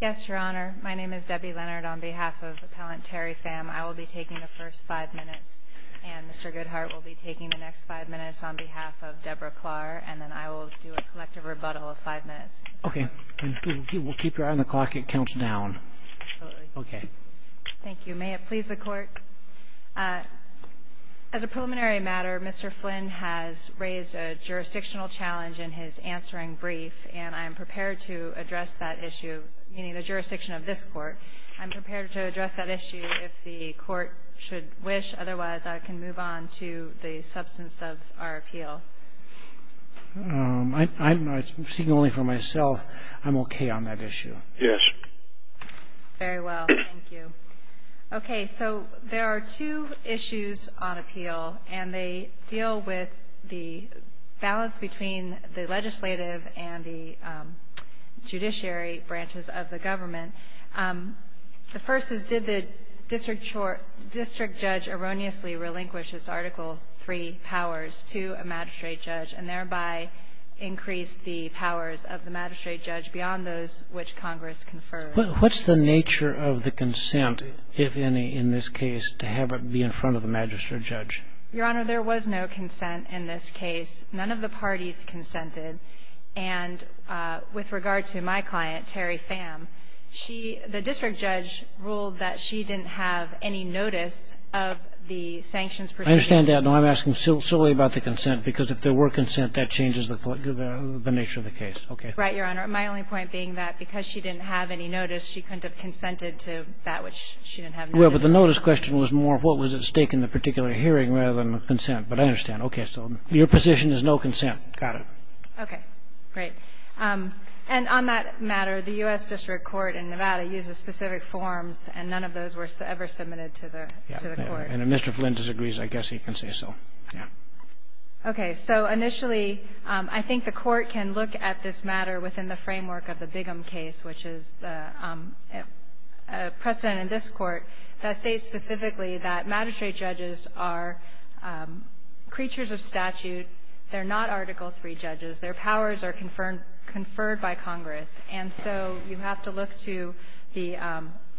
Yes, Your Honor. My name is Debbie Leonard on behalf of Appellant Terry Pham. I will be taking the first five minutes, and Mr. Goodhart will be taking the next five minutes on behalf of Debra Klar, and then I will do a collective rebuttal of five minutes. Okay. We'll keep your eye on the clock. It counts down. Absolutely. Okay. Thank you. May it please the Court? As a preliminary matter, Mr. Flynn has raised a jurisdictional challenge in his answering brief, and I am prepared to address that issue, meaning the jurisdiction of this Court. I'm prepared to address that issue if the Court should wish. Otherwise, I can move on to the substance of our appeal. I'm speaking only for myself. I'm okay on that issue. Very well. Thank you. Okay. So there are two issues on appeal, and they deal with the balance between the legislative and the judiciary branches of the government. The first is, did the district judge erroneously relinquish its Article III powers to a magistrate judge and thereby increase the powers of the magistrate judge beyond those which Congress conferred? What's the nature of the consent, if any, in this case, to have it be in front of the magistrate judge? Your Honor, there was no consent in this case. None of the parties consented. And with regard to my client, Terry Pham, she – the district judge ruled that she didn't have any notice of the sanctions procedure. I understand that. No, I'm asking solely about the consent, because if there were consent, that changes the nature of the case. Okay. Right, Your Honor. My only point being that because she didn't have any notice, she couldn't have consented to that which she didn't have notice of. Well, but the notice question was more of what was at stake in the particular hearing rather than consent. But I understand. Okay. So your position is no consent. Got it. Okay. Great. And on that matter, the U.S. District Court in Nevada uses specific forms, and none of those were ever submitted to the court. Yeah. And if Mr. Flint disagrees, I guess he can say so. Yeah. Okay. So initially, I think the Court can look at this matter within the framework of the Bigham case, which is precedent in this Court, that states specifically that magistrate judges are creatures of statute. They're not Article III judges. Their powers are conferred by Congress. And so you have to look to the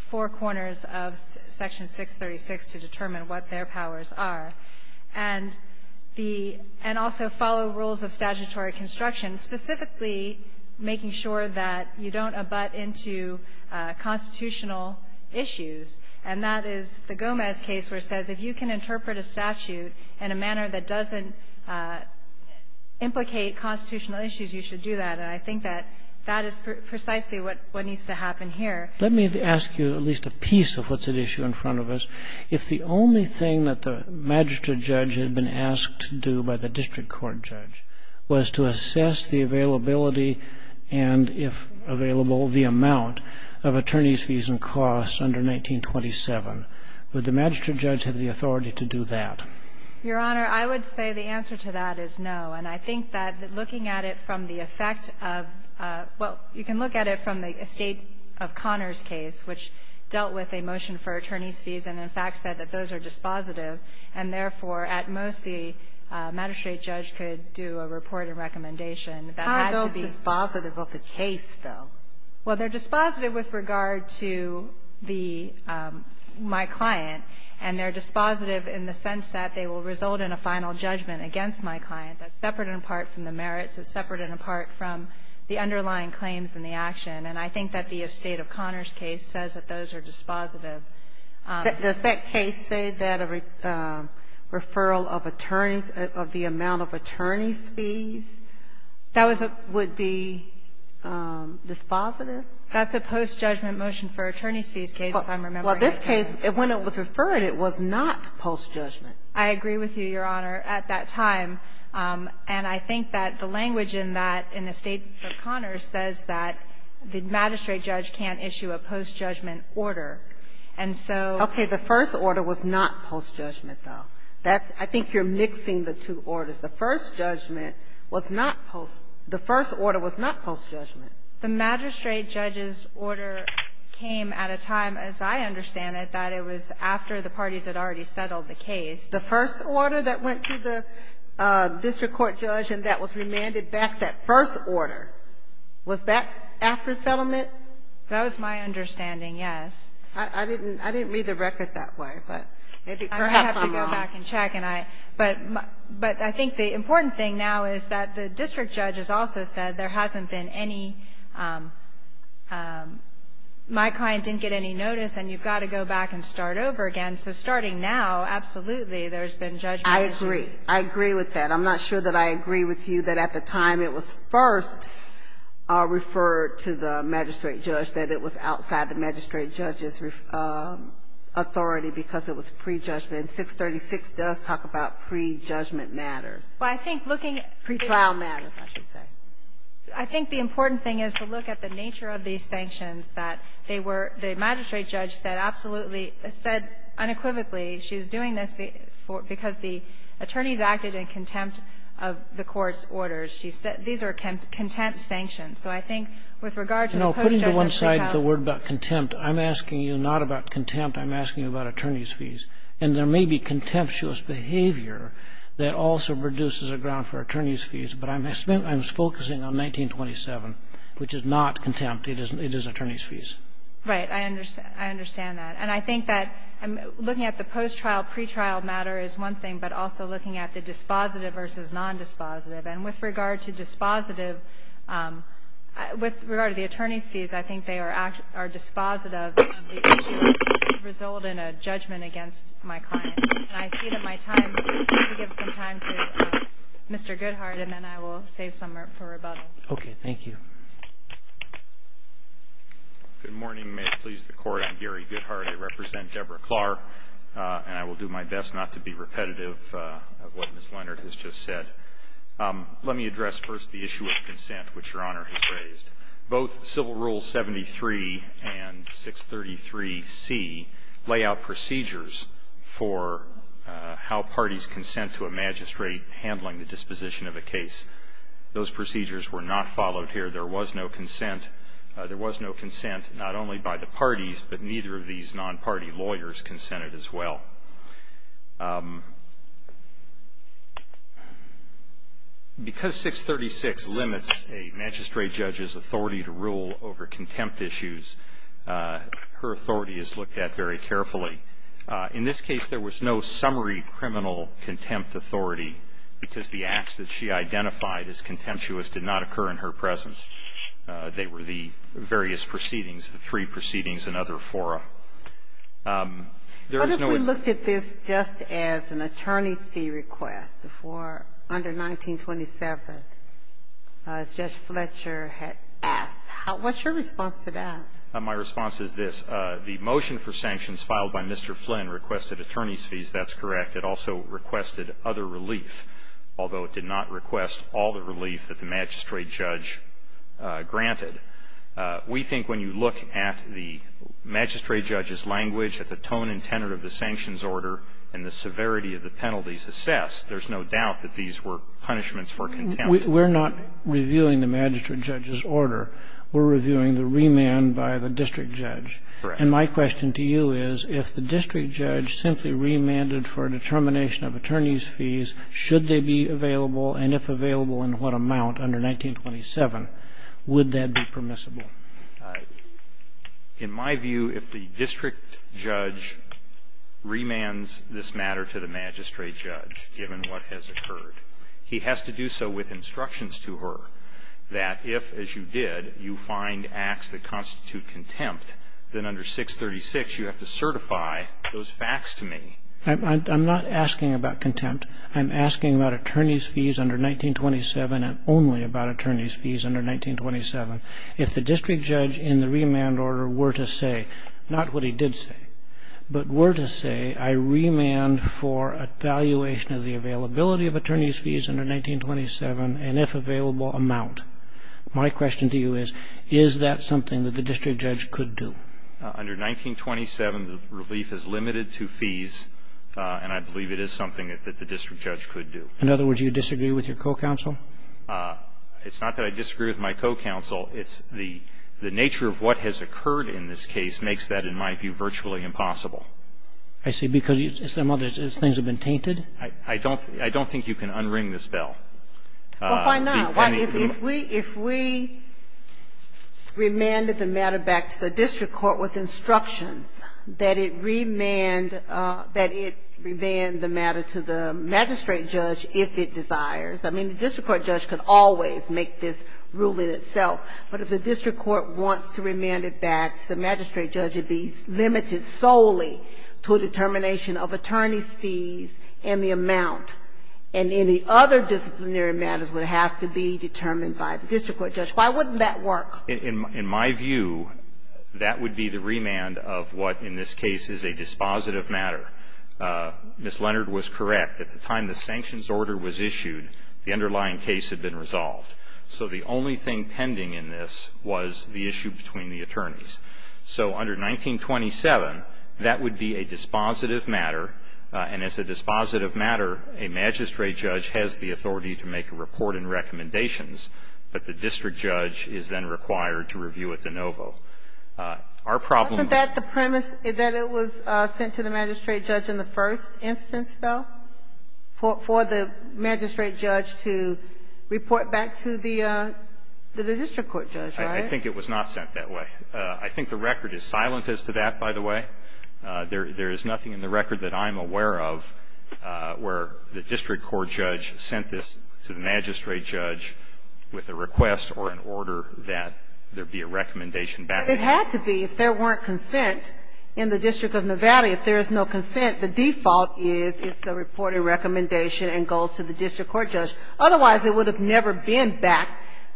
four corners of Section 636 to determine what their powers are. And the — and also follow rules of statutory construction, specifically making sure that you don't abut into constitutional issues. And that is the Gomez case where it says if you can interpret a statute in a manner that doesn't implicate constitutional issues, you should do that. And I think that that is precisely what needs to happen here. Let me ask you at least a piece of what's at issue in front of us. If the only thing that the magistrate judge had been asked to do by the district court judge was to assess the availability and, if available, the amount of attorneys' fees and costs under 1927, would the magistrate judge have the authority to do that? Your Honor, I would say the answer to that is no. And I think that looking at it from the effect of — well, you can look at it from the estate of Connors case, which dealt with a motion for attorneys' fees and, in fact, said that those are dispositive, and therefore, at most, the magistrate judge could do a report and recommendation that had to be — How are those dispositive of the case, though? Well, they're dispositive with regard to the — my client, and they're dispositive in the sense that they will result in a final judgment against my client. That's separate and apart from the merits. It's separate and apart from the underlying claims and the action. And I think that the estate of Connors case says that those are dispositive. Does that case say that a referral of attorneys — of the amount of attorneys' fees would be dispositive? That's a post-judgment motion for attorneys' fees case, if I'm remembering. Well, this case, when it was referred, it was not post-judgment. I agree with you, Your Honor, at that time. And I think that the language in that, in the estate of Connors, says that the magistrate judge can't issue a post-judgment order. And so — Okay. The first order was not post-judgment, though. That's — I think you're mixing the two orders. The first judgment was not post — the first order was not post-judgment. The magistrate judge's order came at a time, as I understand it, that it was after the parties had already settled the case. The first order that went to the district court judge and that was remanded back, that first order, was that after settlement? That was my understanding, yes. I didn't read the record that way, but perhaps I'm wrong. I have to go back and check. But I think the important thing now is that the district judge has also said there hasn't been any — my client didn't get any notice and you've got to go back and start over again. So starting now, absolutely, there's been judgment. I agree. I agree with that. I'm not sure that I agree with you that at the time it was first referred to the magistrate judge, that it was outside the magistrate judge's authority because it was pre-judgment. And 636 does talk about pre-judgment matters. Well, I think looking at — Pre-trial matters, I should say. I think the important thing is to look at the nature of these sanctions that they were — the magistrate judge said absolutely — said unequivocally she was doing this because the attorneys acted in contempt of the court's orders. She said these are contempt sanctions. So I think with regard to the post-judgment pre-trial — No, putting to one side the word about contempt, I'm asking you not about contempt. I'm asking you about attorneys' fees. And there may be contemptuous behavior that also produces a ground for attorneys' fees. But I'm focusing on 1927, which is not contempt. It is attorneys' fees. Right. I understand that. And I think that looking at the post-trial, pre-trial matter is one thing, but also looking at the dispositive versus nondispositive. And with regard to dispositive — with regard to the attorneys' fees, I think they are dispositive of the issue that could result in a judgment against my client. And I see that my time — to give some time to Mr. Goodhart, and then I will save some for rebuttal. Okay. Thank you. Good morning. May it please the Court. I'm Gary Goodhart. I represent Deborah Clark. And I will do my best not to be repetitive of what Ms. Leonard has just said. Let me address first the issue of consent, which Your Honor has raised. Both Civil Rule 73 and 633C lay out procedures for how parties consent to a magistrate handling the disposition of a case. Those procedures were not followed here. There was no consent. There was no consent not only by the parties, but neither of these non-party lawyers consented as well. Because 636 limits a magistrate judge's authority to rule over contempt issues, her authority is looked at very carefully. In this case, there was no summary criminal contempt authority because the acts that she identified as contemptuous did not occur in her presence. They were the various proceedings, the three proceedings and other fora. What if we looked at this just as an attorney's fee request for under 1927? As Judge Fletcher had asked, what's your response to that? My response is this. The motion for sanctions filed by Mr. Flynn requested attorney's fees. That's correct. It also requested other relief, although it did not request all the relief that the magistrate judge granted. We think when you look at the magistrate judge's language, at the tone and tenor of the sanctions order and the severity of the penalties assessed, there's no doubt that these were punishments for contempt. We're not reviewing the magistrate judge's order. We're reviewing the remand by the district judge. Correct. And my question to you is, if the district judge simply remanded for a determination of attorney's fees, should they be available, and if available, in what amount under 1927, would that be permissible? In my view, if the district judge remands this matter to the magistrate judge, given what has occurred, he has to do so with instructions to her that if, as you did, you find acts that constitute contempt, then under 636 you have to certify those facts to me. I'm not asking about contempt. I'm asking about attorney's fees under 1927 and only about attorney's fees under 1927. If the district judge in the remand order were to say, not what he did say, but were to say, I remand for a valuation of the availability of attorney's fees under 1927, and if available, amount, my question to you is, is that something that the district judge could do? Under 1927, the relief is limited to fees, and I believe it is something that the district judge could do. In other words, you disagree with your co-counsel? It's not that I disagree with my co-counsel. It's the nature of what has occurred in this case makes that, in my view, virtually impossible. I see. Because some other things have been tainted? I don't think you can unring this bell. Well, why not? If we remanded the matter back to the district court with instructions that it remanded the matter to the magistrate judge if it desires, I mean, the district court judge could always make this rule in itself. But if the district court wants to remand it back to the magistrate judge, it would be limited solely to a determination of attorney's fees and the amount. And any other disciplinary matters would have to be determined by the district court judge. Why wouldn't that work? In my view, that would be the remand of what in this case is a dispositive matter. Ms. Leonard was correct. At the time the sanctions order was issued, the underlying case had been resolved. So the only thing pending in this was the issue between the attorneys. So under 1927, that would be a dispositive matter, and as a dispositive matter, a magistrate judge has the authority to make a report and recommendations, but the district judge is then required to review it de novo. Our problem with that the premise that it was sent to the magistrate judge in the first instance, though, for the magistrate judge to report back to the district court judge, right? I think it was not sent that way. I think the record is silent as to that, by the way. There is nothing in the record that I'm aware of where the district court judge sent this to the magistrate judge with a request or an order that there be a recommendation back. It had to be if there weren't consent in the District of Nevada. If there is no consent, the default is it's a reported recommendation and goes to the district court judge. Otherwise, it would have never been back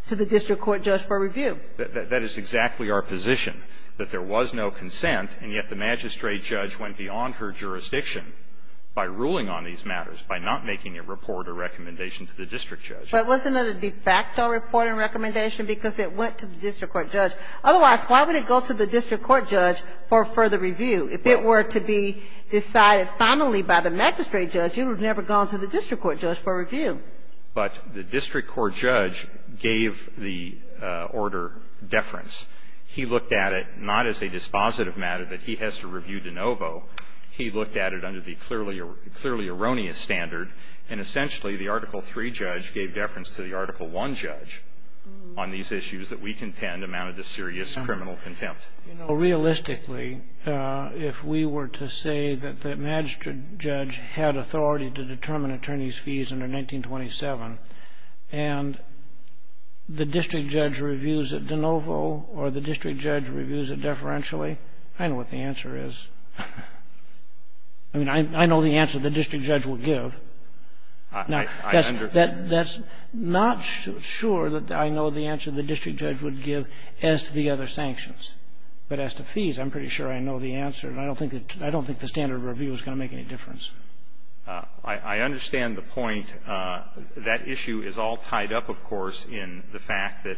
to the district court judge for review. That is exactly our position, that there was no consent, and yet the magistrate judge went beyond her jurisdiction by ruling on these matters, by not making a report or recommendation to the district judge. But wasn't it a de facto report and recommendation because it went to the district court judge? Otherwise, why would it go to the district court judge for further review? If it were to be decided finally by the magistrate judge, it would have never gone to the district court judge for review. But the district court judge gave the order deference. He looked at it not as a dispositive matter that he has to review de novo. He looked at it under the clearly erroneous standard. And essentially, the Article III judge gave deference to the Article I judge on these issues that we contend amounted to serious criminal contempt. You know, realistically, if we were to say that the magistrate judge had authority to determine attorneys' fees under 1927, and the district judge reviews it de novo or the district judge reviews it deferentially, I know what the answer is. I mean, I know the answer the district judge would give. Now, that's not sure that I know the answer the district judge would give as to the other sanctions. But as to fees, I'm pretty sure I know the answer, and I don't think the standard review is going to make any difference. I understand the point. That issue is all tied up, of course, in the fact that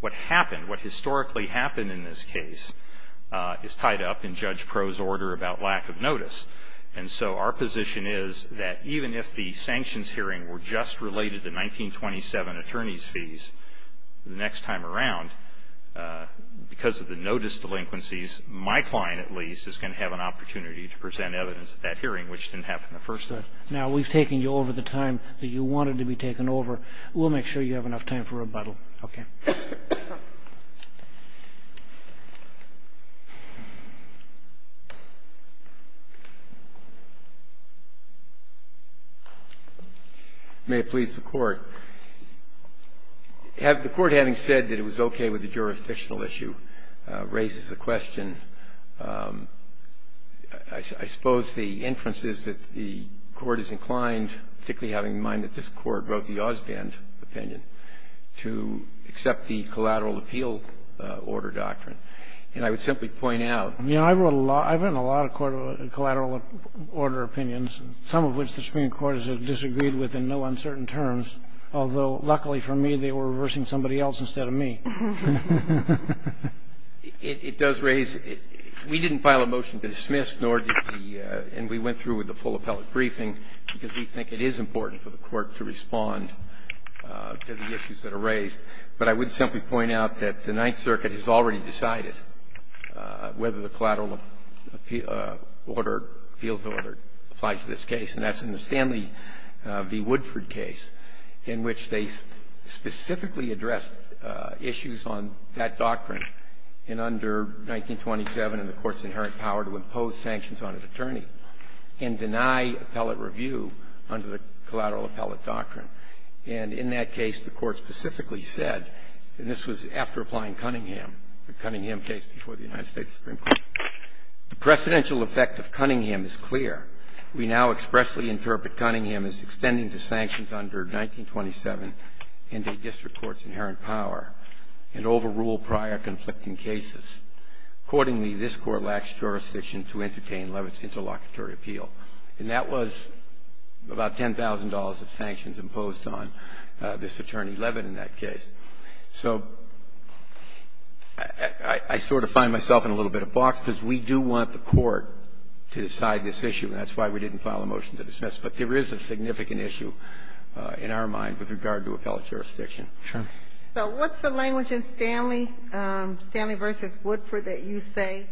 what happened, what historically happened in this case, is tied up in Judge Pro's order about lack of notice. And so our position is that even if the sanctions hearing were just related to 1927 attorneys' fees the next time around, because of the notice delinquencies, my client, at least, is going to have an opportunity to present evidence at that hearing which didn't happen the first time. Now, we've taken you over the time that you wanted to be taken over. We'll make sure you have enough time for rebuttal. Okay. May it please the Court. The Court, having said that it was okay with the jurisdictional issue, raises a question. I suppose the inference is that the Court is inclined, particularly having in mind that this Court wrote the Osband opinion, to accept the collateral appeal order doctrine. And I would simply point out that I wrote a lot of collateral order opinions, some of which the Supreme Court has disagreed with in no uncertain terms. Although, luckily for me, they were reversing somebody else instead of me. It does raise – we didn't file a motion to dismiss, nor did the – and we went through with the full appellate briefing, because we think it is important for the Court to respond to the issues that are raised. But I would simply point out that the Ninth Circuit has already decided whether the collateral order, appeals order, applies to this case. And that's in the Stanley v. Woodford case, in which they specifically addressed issues on that doctrine in under 1927 and the Court's inherent power to impose sanctions on an attorney and deny appellate review under the collateral appellate doctrine. And in that case, the Court specifically said, and this was after applying Cunningham, the Cunningham case before the United States Supreme Court, the precedential effect of Cunningham is clear. We now expressly interpret Cunningham as extending to sanctions under 1927 and a district court's inherent power and overrule prior conflicting cases. Accordingly, this Court lacks jurisdiction to entertain Levitt's interlocutory appeal. And that was about $10,000 of sanctions imposed on this attorney Levitt in that case. So I sort of find myself in a little bit of a box, because we do want the Court to decide this issue, and that's why we didn't file a motion to dismiss. But there is a significant issue in our mind with regard to appellate jurisdiction. Roberts. So what's the language in Stanley, Stanley v. Woodford, that you say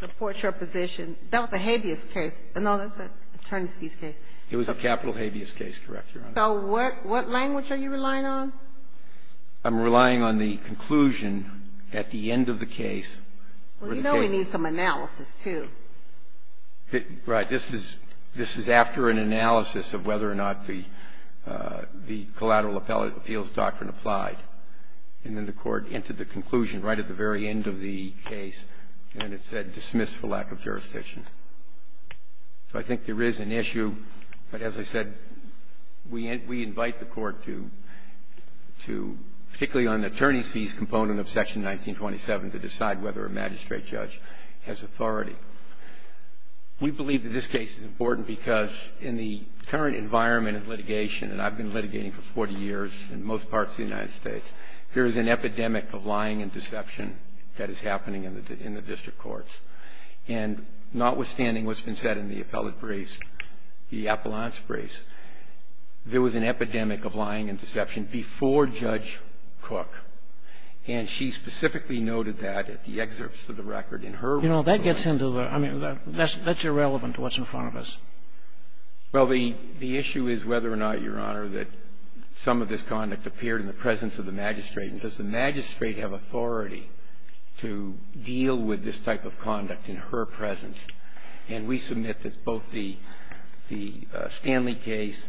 supports your position? That was a habeas case. No, that's an attorney's fees case. It was a capital habeas case, correct, Your Honor. So what language are you relying on? I'm relying on the conclusion at the end of the case. Well, you know we need some analysis, too. Right. This is after an analysis of whether or not the collateral appeals doctrine applied, and then the Court entered the conclusion right at the very end of the case, and then it said dismiss for lack of jurisdiction. So I think there is an issue. But as I said, we invite the Court to, particularly on the attorney's fees component of Section 1927, to decide whether a magistrate judge has authority. We believe that this case is important because in the current environment of litigation, and I've been litigating for 40 years in most parts of the United States, there is an epidemic of lying and deception that is happening in the district courts. And notwithstanding what's been said in the appellate briefs, the appellant's briefs, there was an epidemic of lying and deception before Judge Cook. And she specifically noted that at the excerpts of the record in her report. You know, that gets into the – I mean, that's irrelevant to what's in front of us. Well, the issue is whether or not, Your Honor, that some of this conduct appeared in the presence of the magistrate. And does the magistrate have authority to deal with this type of conduct in her presence? And we submit that both the Stanley case,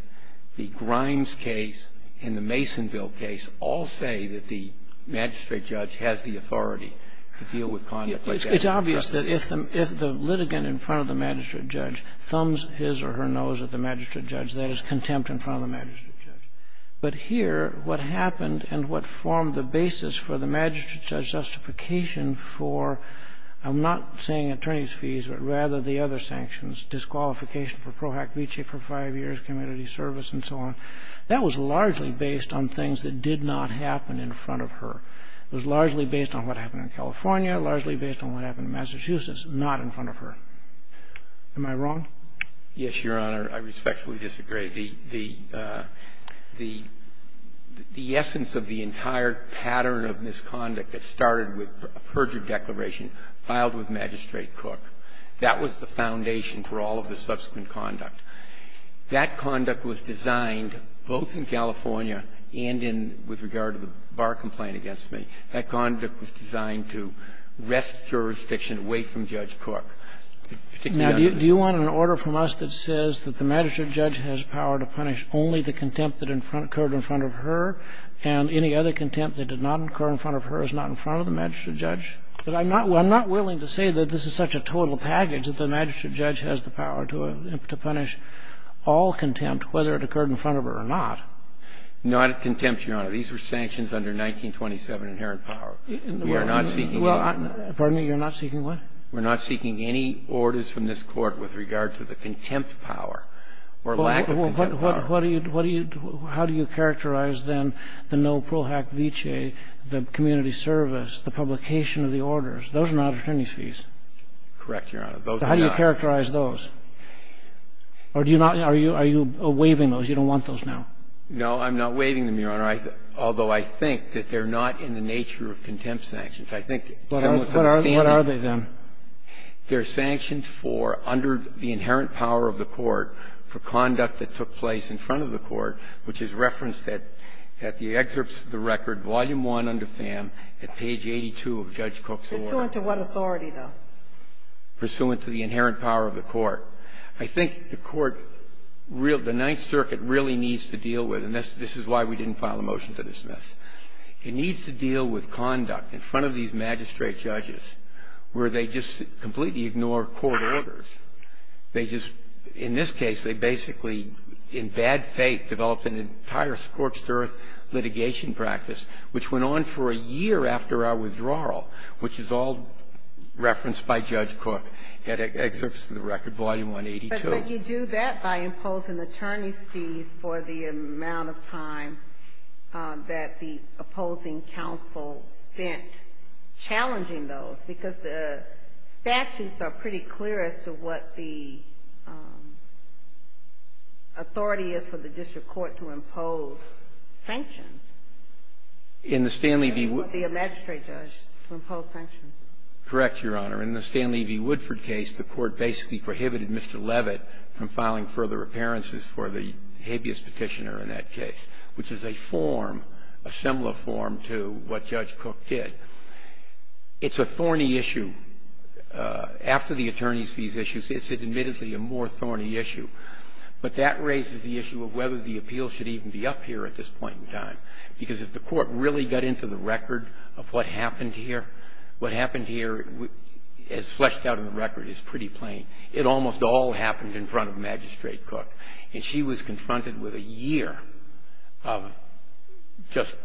the Grimes case, and the Masonville case all say that the magistrate judge has the authority to deal with conduct like this. It's obvious that if the litigant in front of the magistrate judge thumbs his or her nose at the magistrate judge, that is contempt in front of the magistrate judge. But here, what happened and what formed the basis for the magistrate judge's justification for, I'm not saying attorney's fees, but rather the other sanctions, disqualification for pro hack vici for five years, community service, and so on, that was largely based on things that did not happen in front of her. It was largely based on what happened in California, largely based on what happened in Massachusetts, not in front of her. Am I wrong? Yes, Your Honor. I respectfully disagree. The essence of the entire pattern of misconduct that started with a perjury declaration was designed to wrest jurisdiction away from Judge Cook. Now, do you want an order from us that says that the magistrate judge has power to punish only the contempt that occurred in front of her and any other contempt that did not occur in front of her is not in front of the magistrate judge? Because I'm not willing to say that this is such a total package that the magistrate judge has the power to punish all contempt, whether it occurred in front of her or not. Not contempt, Your Honor. These were sanctions under 1927 inherent power. We are not seeking the law. Well, pardon me. You're not seeking what? We're not seeking any orders from this Court with regard to the contempt power or lack of contempt power. Well, what do you do? How do you characterize, then, the no pro hack vici, the community service, the publication of the orders? Those are not attorney's fees. Correct, Your Honor. Those are not. How do you characterize those? Or do you not? Are you waiving those? You don't want those now. No, I'm not waiving them, Your Honor. Although I think that they're not in the nature of contempt sanctions. I think, similar to the standard. What are they, then? They're sanctions for, under the inherent power of the Court, for conduct that took place in front of the Court, which is referenced at the excerpts of the record, Volume I under FAM, at page 82 of Judge Cook's order. Pursuant to what authority, though? Pursuant to the inherent power of the Court. I think the Court, the Ninth Circuit really needs to deal with, and this is why we didn't file a motion to dismiss, it needs to deal with conduct in front of these magistrate judges where they just completely ignore court orders. They just, in this case, they basically, in bad faith, developed an entire scorched earth litigation practice, which went on for a year after our withdrawal, which is all referenced by Judge Cook at excerpts of the record, Volume 182. But you do that by imposing attorney's fees for the amount of time that the opposing counsel spent challenging those, because the statutes are pretty clear as to what the authority is for the district court to impose sanctions. In the Stanley v. Woodford. Or the magistrate judge to impose sanctions. Correct, Your Honor. In the Stanley v. Woodford case, the Court basically prohibited Mr. Levitt from filing further appearances for the habeas petitioner in that case, which is a form, a similar form to what Judge Cook did. It's a thorny issue. After the attorney's fees issue, it's admittedly a more thorny issue. But that raises the issue of whether the appeal should even be up here at this point in time, because if the Court really got into the record of what happened here, what is fleshed out in the record is pretty plain. It almost all happened in front of Magistrate Cook. And she was confronted with a year of just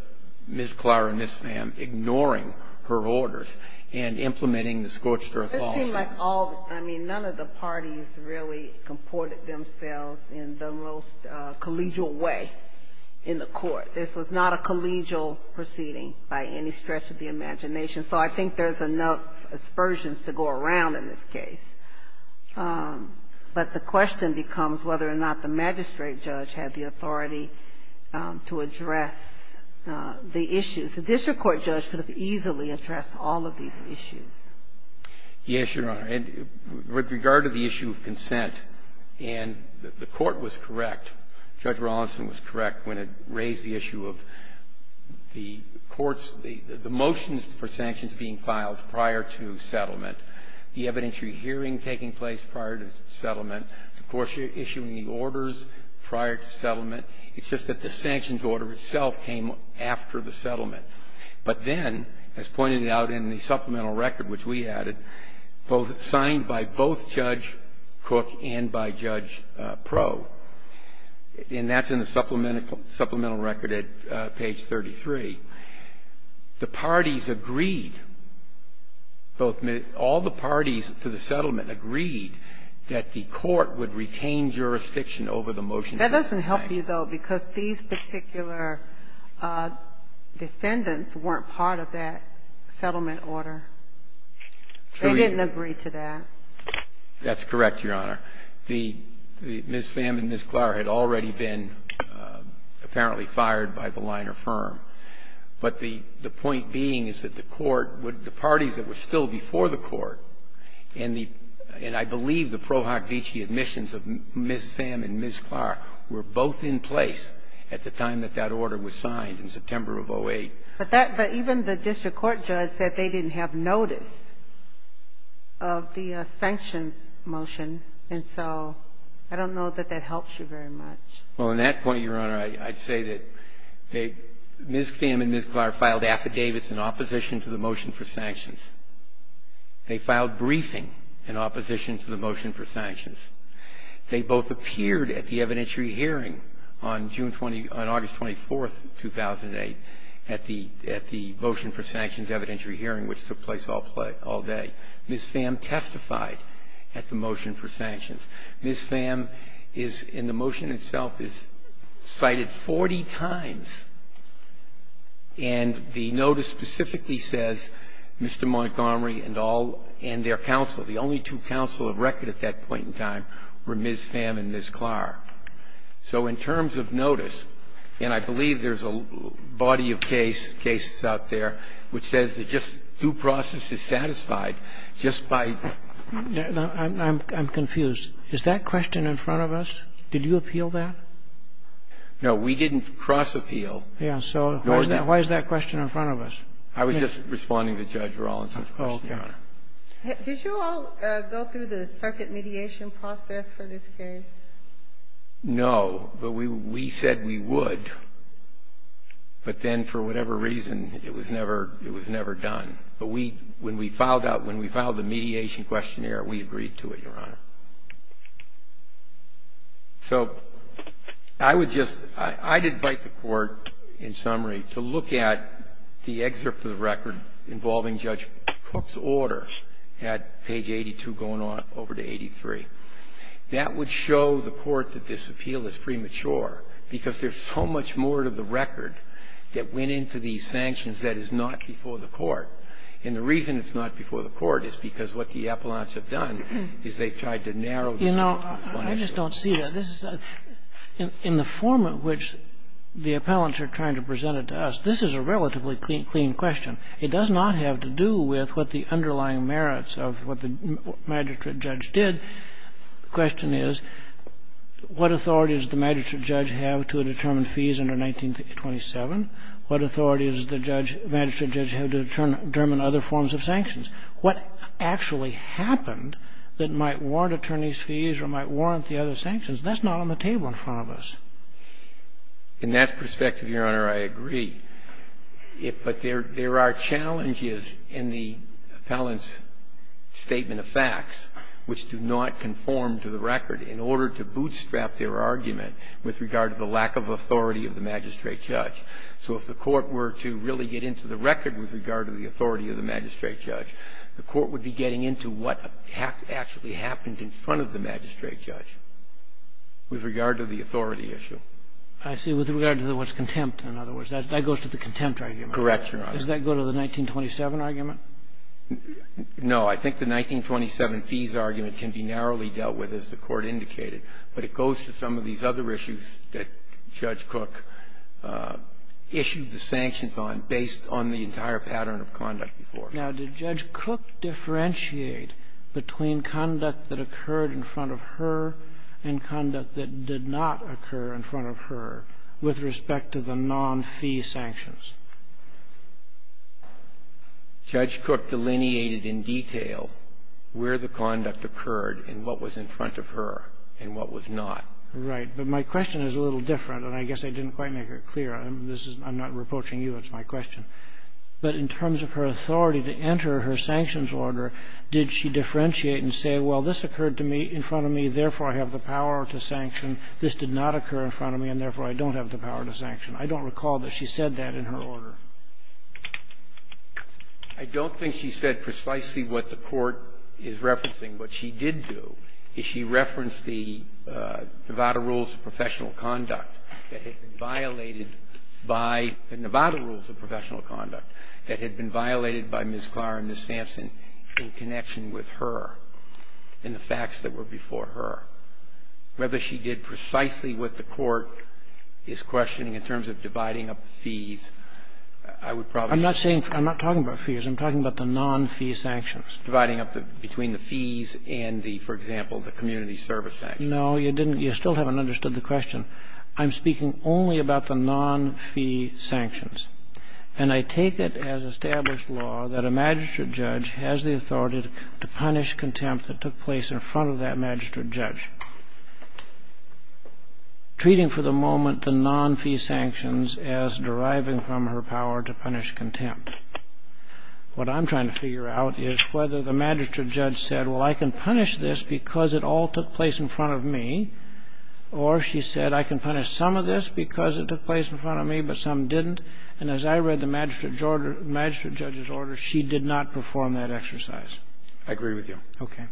Ms. Clower and Ms. Pham ignoring her orders and implementing the Scorched Earth Law. It seemed like all, I mean, none of the parties really comported themselves in the most collegial way in the Court. So I think there's enough aspersions to go around in this case. But the question becomes whether or not the magistrate judge had the authority to address the issues. The district court judge could have easily addressed all of these issues. Yes, Your Honor. And with regard to the issue of consent, and the Court was correct, Judge Rawlinson was correct when it raised the issue of the Court's, the motions for sanctions being filed prior to settlement. The evidentiary hearing taking place prior to settlement. Of course, you're issuing the orders prior to settlement. It's just that the sanctions order itself came after the settlement. But then, as pointed out in the supplemental record, which we added, signed by both Judge Cook and by Judge Proe. And that's in the supplemental record at page 33. The parties agreed, both, all the parties to the settlement agreed that the Court would retain jurisdiction over the motions. That doesn't help you, though, because these particular defendants weren't part of that settlement order. True. They didn't agree to that. That's correct, Your Honor. Ms. Pham and Ms. Klar had already been apparently fired by the liner firm. But the point being is that the Court would, the parties that were still before the Court, and the, and I believe the Pro Hoc Deci admissions of Ms. Pham and Ms. Klar were both in place at the time that that order was signed, in September of 08. But that, but even the district court judge said they didn't have notice of the sanctions motion, and so I don't know that that helps you very much. Well, in that point, Your Honor, I'd say that they, Ms. Pham and Ms. Klar filed affidavits in opposition to the motion for sanctions. They filed briefing in opposition to the motion for sanctions. They both appeared at the evidentiary hearing on June 20, on August 24, 2008, at the, at the motion for sanctions evidentiary hearing, which took place all play, all day. Ms. Pham testified at the motion for sanctions. Ms. Pham is, in the motion itself, is cited 40 times, and the notice specifically says Mr. Montgomery and all, and their counsel, the only two counsel of record at that point in time were Ms. Pham and Ms. Klar. So in terms of notice, and I believe there's a body of case, cases out there, which says that just due process is satisfied just by... I'm confused. Is that question in front of us? Did you appeal that? No, we didn't cross-appeal. Yeah, so why is that question in front of us? I was just responding to Judge Rollins' question, Your Honor. Okay. Did you all go through the circuit mediation process for this case? No, but we said we would. But then, for whatever reason, it was never done. But when we filed out, when we filed the mediation questionnaire, we agreed to it, Your Honor. So I would just, I'd invite the Court, in summary, to look at the excerpt of the record involving Judge Cook's order at page 82 going on over to 83. That would show the Court that this appeal is premature, because there's so much more to the record that went into these sanctions that is not before the Court. And the reason it's not before the Court is because what the appellants have done is they've tried to narrow the... You know, I just don't see that. This is, in the form in which the appellants are trying to present it to us, this is a relatively clean question. It does not have to do with what the underlying merits of what the magistrate judge did. The question is, what authority does the magistrate judge have to determine fees under 1927? What authority does the magistrate judge have to determine other forms of sanctions? What actually happened that might warrant attorneys' fees or might warrant the other sanctions? That's not on the table in front of us. In that perspective, Your Honor, I agree. But there are challenges in the appellant's statement of facts which do not conform to the record in order to bootstrap their argument with regard to the lack of authority of the magistrate judge. So if the Court were to really get into the record with regard to the authority of the magistrate judge, the Court would be getting into what actually happened in front of the magistrate judge with regard to the authority issue. I see. With regard to what's contempt, in other words. That goes to the contempt argument. Correct, Your Honor. Does that go to the 1927 argument? No. I think the 1927 fees argument can be narrowly dealt with, as the Court indicated. But it goes to some of these other issues that Judge Cook issued the sanctions on based on the entire pattern of conduct before. Now, did Judge Cook differentiate between conduct that occurred in front of her and what was in front of her with respect to the non-fee sanctions? Judge Cook delineated in detail where the conduct occurred and what was in front of her and what was not. Right. But my question is a little different, and I guess I didn't quite make it clear. I'm not reproaching you. It's my question. But in terms of her authority to enter her sanctions order, did she differentiate and say, well, this occurred to me in front of me, therefore, I have the power to sanction. This did not occur in front of me, and therefore, I don't have the power to sanction. I don't recall that she said that in her order. I don't think she said precisely what the Court is referencing. What she did do is she referenced the Nevada Rules of Professional Conduct that had been violated by the Nevada Rules of Professional Conduct that had been violated by Ms. Clark and Ms. Sampson in connection with her and the facts that were before her. Whether she did precisely what the Court is questioning in terms of dividing up fees, I would probably say no. I'm not saying fees. I'm not talking about fees. I'm talking about the non-fee sanctions. Dividing up between the fees and the, for example, the community service sanctions. No, you didn't. You still haven't understood the question. I'm speaking only about the non-fee sanctions. And I take it as established law that a magistrate judge has the authority to punish contempt that took place in front of that magistrate judge, treating for the moment the non-fee sanctions as deriving from her power to punish contempt. What I'm trying to figure out is whether the magistrate judge said, well, I can punish this because it all took place in front of me, or she said, I can punish some of this because it took place in front of me, but some didn't. And as I read the magistrate judge's order, she did not perform that exercise. I agree with you. Okay.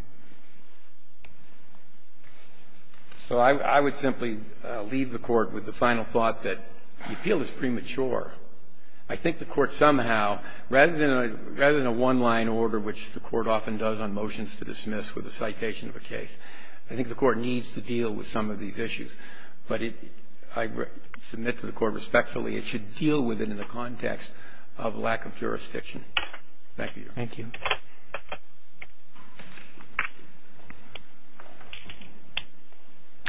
So I would simply leave the Court with the final thought that the appeal is premature. I think the Court somehow, rather than a one-line order, which the Court often does on motions to dismiss with a citation of a case, I think the Court needs to deal with some of these issues. But I submit to the Court respectfully it should deal with it in the context of lack of jurisdiction. Thank you. Thank you.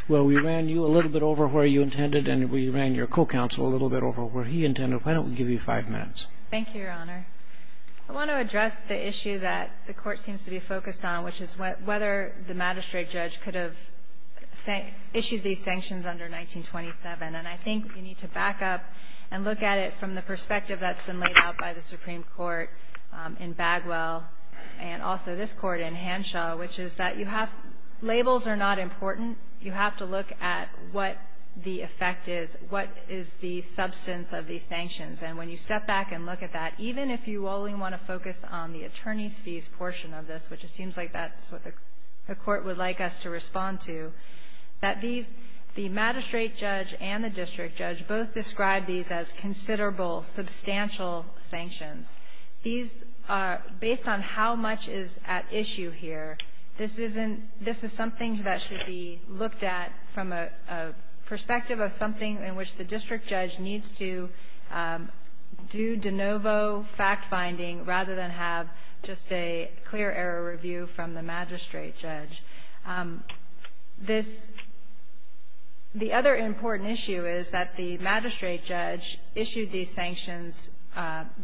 Well, we ran you a little bit over where you intended, and we ran your co-counsel a little bit over where he intended. Why don't we give you five minutes? Thank you, Your Honor. I want to address the issue that the Court seems to be focused on, which is whether the magistrate judge could have issued these sanctions under 1927. And I think we need to back up and look at it from the perspective that's been laid out by the Supreme Court in Bagwell, and also this Court in Hanshaw, which is that you have — labels are not important. You have to look at what the effect is, what is the substance of these sanctions. And when you step back and look at that, even if you only want to focus on the attorneys' fees portion of this, which it seems like that's what the Court would like us to respond to, that these — the magistrate judge and the district judge both describe these as considerable, substantial sanctions. These are — based on how much is at issue here, this isn't — this is something that should be looked at from a perspective of something in which the district judge needs to do de novo fact-finding rather than have just a clear-error review from the magistrate judge. This — the other important issue is that the magistrate judge issued these sanctions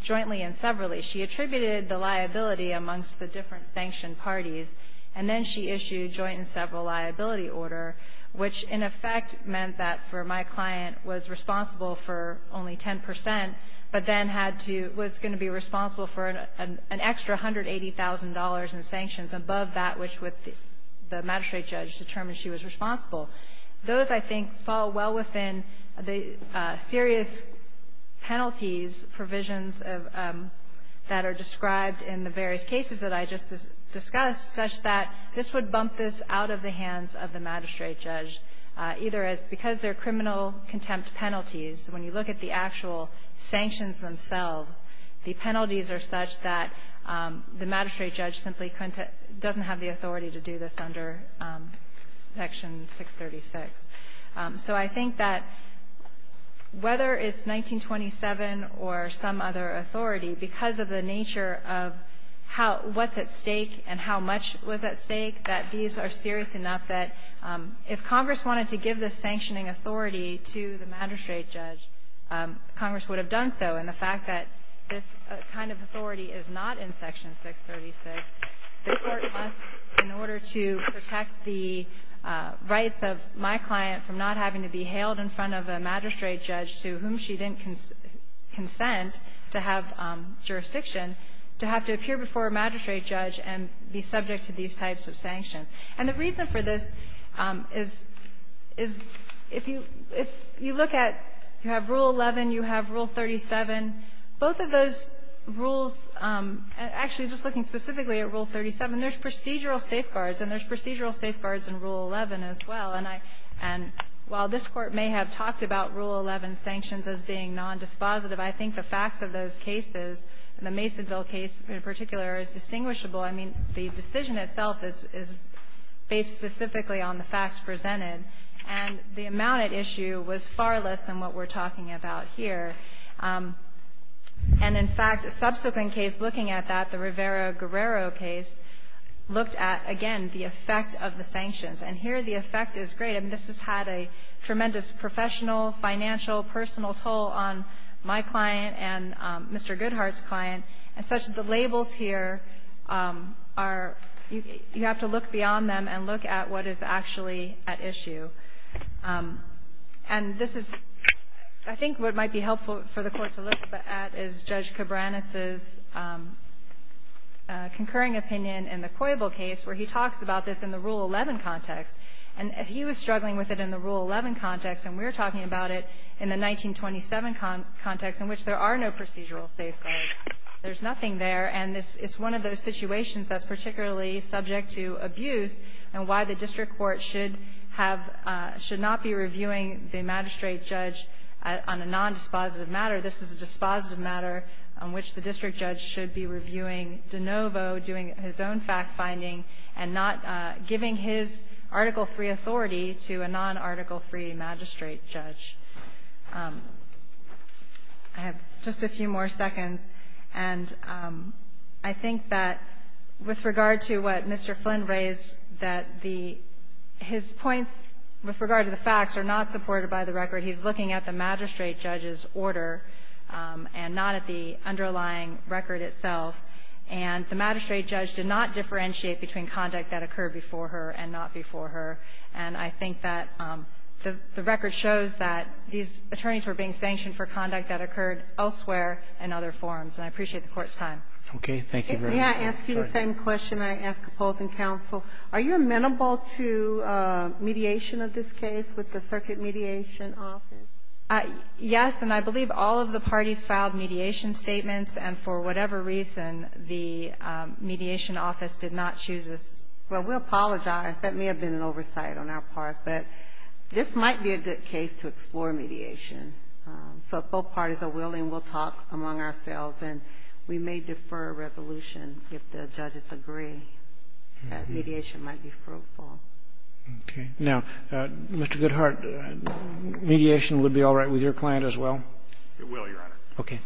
jointly and severally. She attributed the liability amongst the different sanction parties, and then she issued joint and several liability order, which in effect meant that for my client was responsible for only 10 percent, but then had to — was going to be responsible for an extra $180,000 in sanctions above that which would — the magistrate judge determined she was responsible. Those, I think, fall well within the serious penalties provisions that are described in the various cases that I just discussed, such that this would bump this out of the hands of the magistrate judge, either as — because they're criminal contempt penalties. When you look at the actual sanctions themselves, the penalties are such that the magistrate judge simply couldn't — doesn't have the authority to do this under Section 636. So I think that whether it's 1927 or some other authority, because of the nature of how — what's at stake and how much was at stake, that these are serious enough that if Congress wanted to give this sanctioning authority to the magistrate judge, Congress would have done so. And the fact that this kind of authority is not in Section 636, the Court must, in order to protect the rights of my client from not having to be hailed in front of a magistrate judge to whom she didn't consent to have jurisdiction, to have to appear before a magistrate judge and be subject to these types of sanctions. And the reason for this is — is if you — if you look at — you have Rule 11, you have Rule 37. Both of those rules — actually, just looking specifically at Rule 37, there's procedural safeguards, and there's procedural safeguards in Rule 11 as well. And I — and while this Court may have talked about Rule 11 sanctions as being nondispositive, I think the facts of those cases, the Masonville case in particular, is distinguishable. I mean, the decision itself is — is based specifically on the facts presented. And the amount at issue was far less than what we're talking about here. And in fact, a subsequent case looking at that, the Rivera-Guerrero case, looked at, again, the effect of the sanctions. And here the effect is great. And this has had a tremendous professional, financial, personal toll on my client and Mr. Goodhart's client, and such that the labels here are — you have to look beyond them and look at what is actually at issue. And this is — I think what might be helpful for the Court to look at is Judge Cabranes' concurring opinion in the Coyble case, where he talks about this in the Rule 11 context. And he was struggling with it in the Rule 11 context, and we're talking about it in the 1927 context, in which there are no procedural safeguards. There's nothing there. And this — it's one of those situations that's particularly subject to abuse and why the district court should have — should not be reviewing the magistrate judge on a nondispositive matter. This is a dispositive matter on which the district judge should be reviewing de novo, doing his own fact-finding, and not giving his Article III authority to a non-Article III magistrate judge. I have just a few more seconds. And I think that with regard to what Mr. Flynn raised, that the — his points with regard to the facts are not supported by the record. He's looking at the magistrate judge's order and not at the underlying record itself. And the magistrate judge did not differentiate between conduct that occurred before her and not before her. And I think that the record shows that these attorneys were being sanctioned for conduct that occurred elsewhere and other forms. And I appreciate the Court's time. Roberts. Okay. Thank you very much. If may, I ask you the same question I ask opposing counsel. Are you amenable to mediation of this case with the Circuit Mediation Office? Yes. And I believe all of the parties filed mediation statements. And for whatever reason, the Mediation Office did not choose this. Well, we apologize. That may have been an oversight on our part. But this might be a good case to explore mediation. So if both parties are willing, we'll talk among ourselves. And we may defer a resolution if the judges agree that mediation might be fruitful. Okay. Now, Mr. Goodhart, mediation would be all right with your client as well? It will, Your Honor. Okay.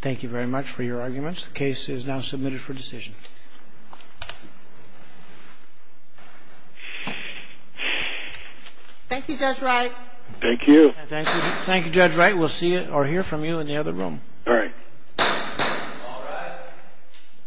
Thank you very much for your arguments. The case is now submitted for decision. Thank you, Judge Wright. Thank you. Thank you, Judge Wright. We'll see or hear from you in the other room. All right. All rise.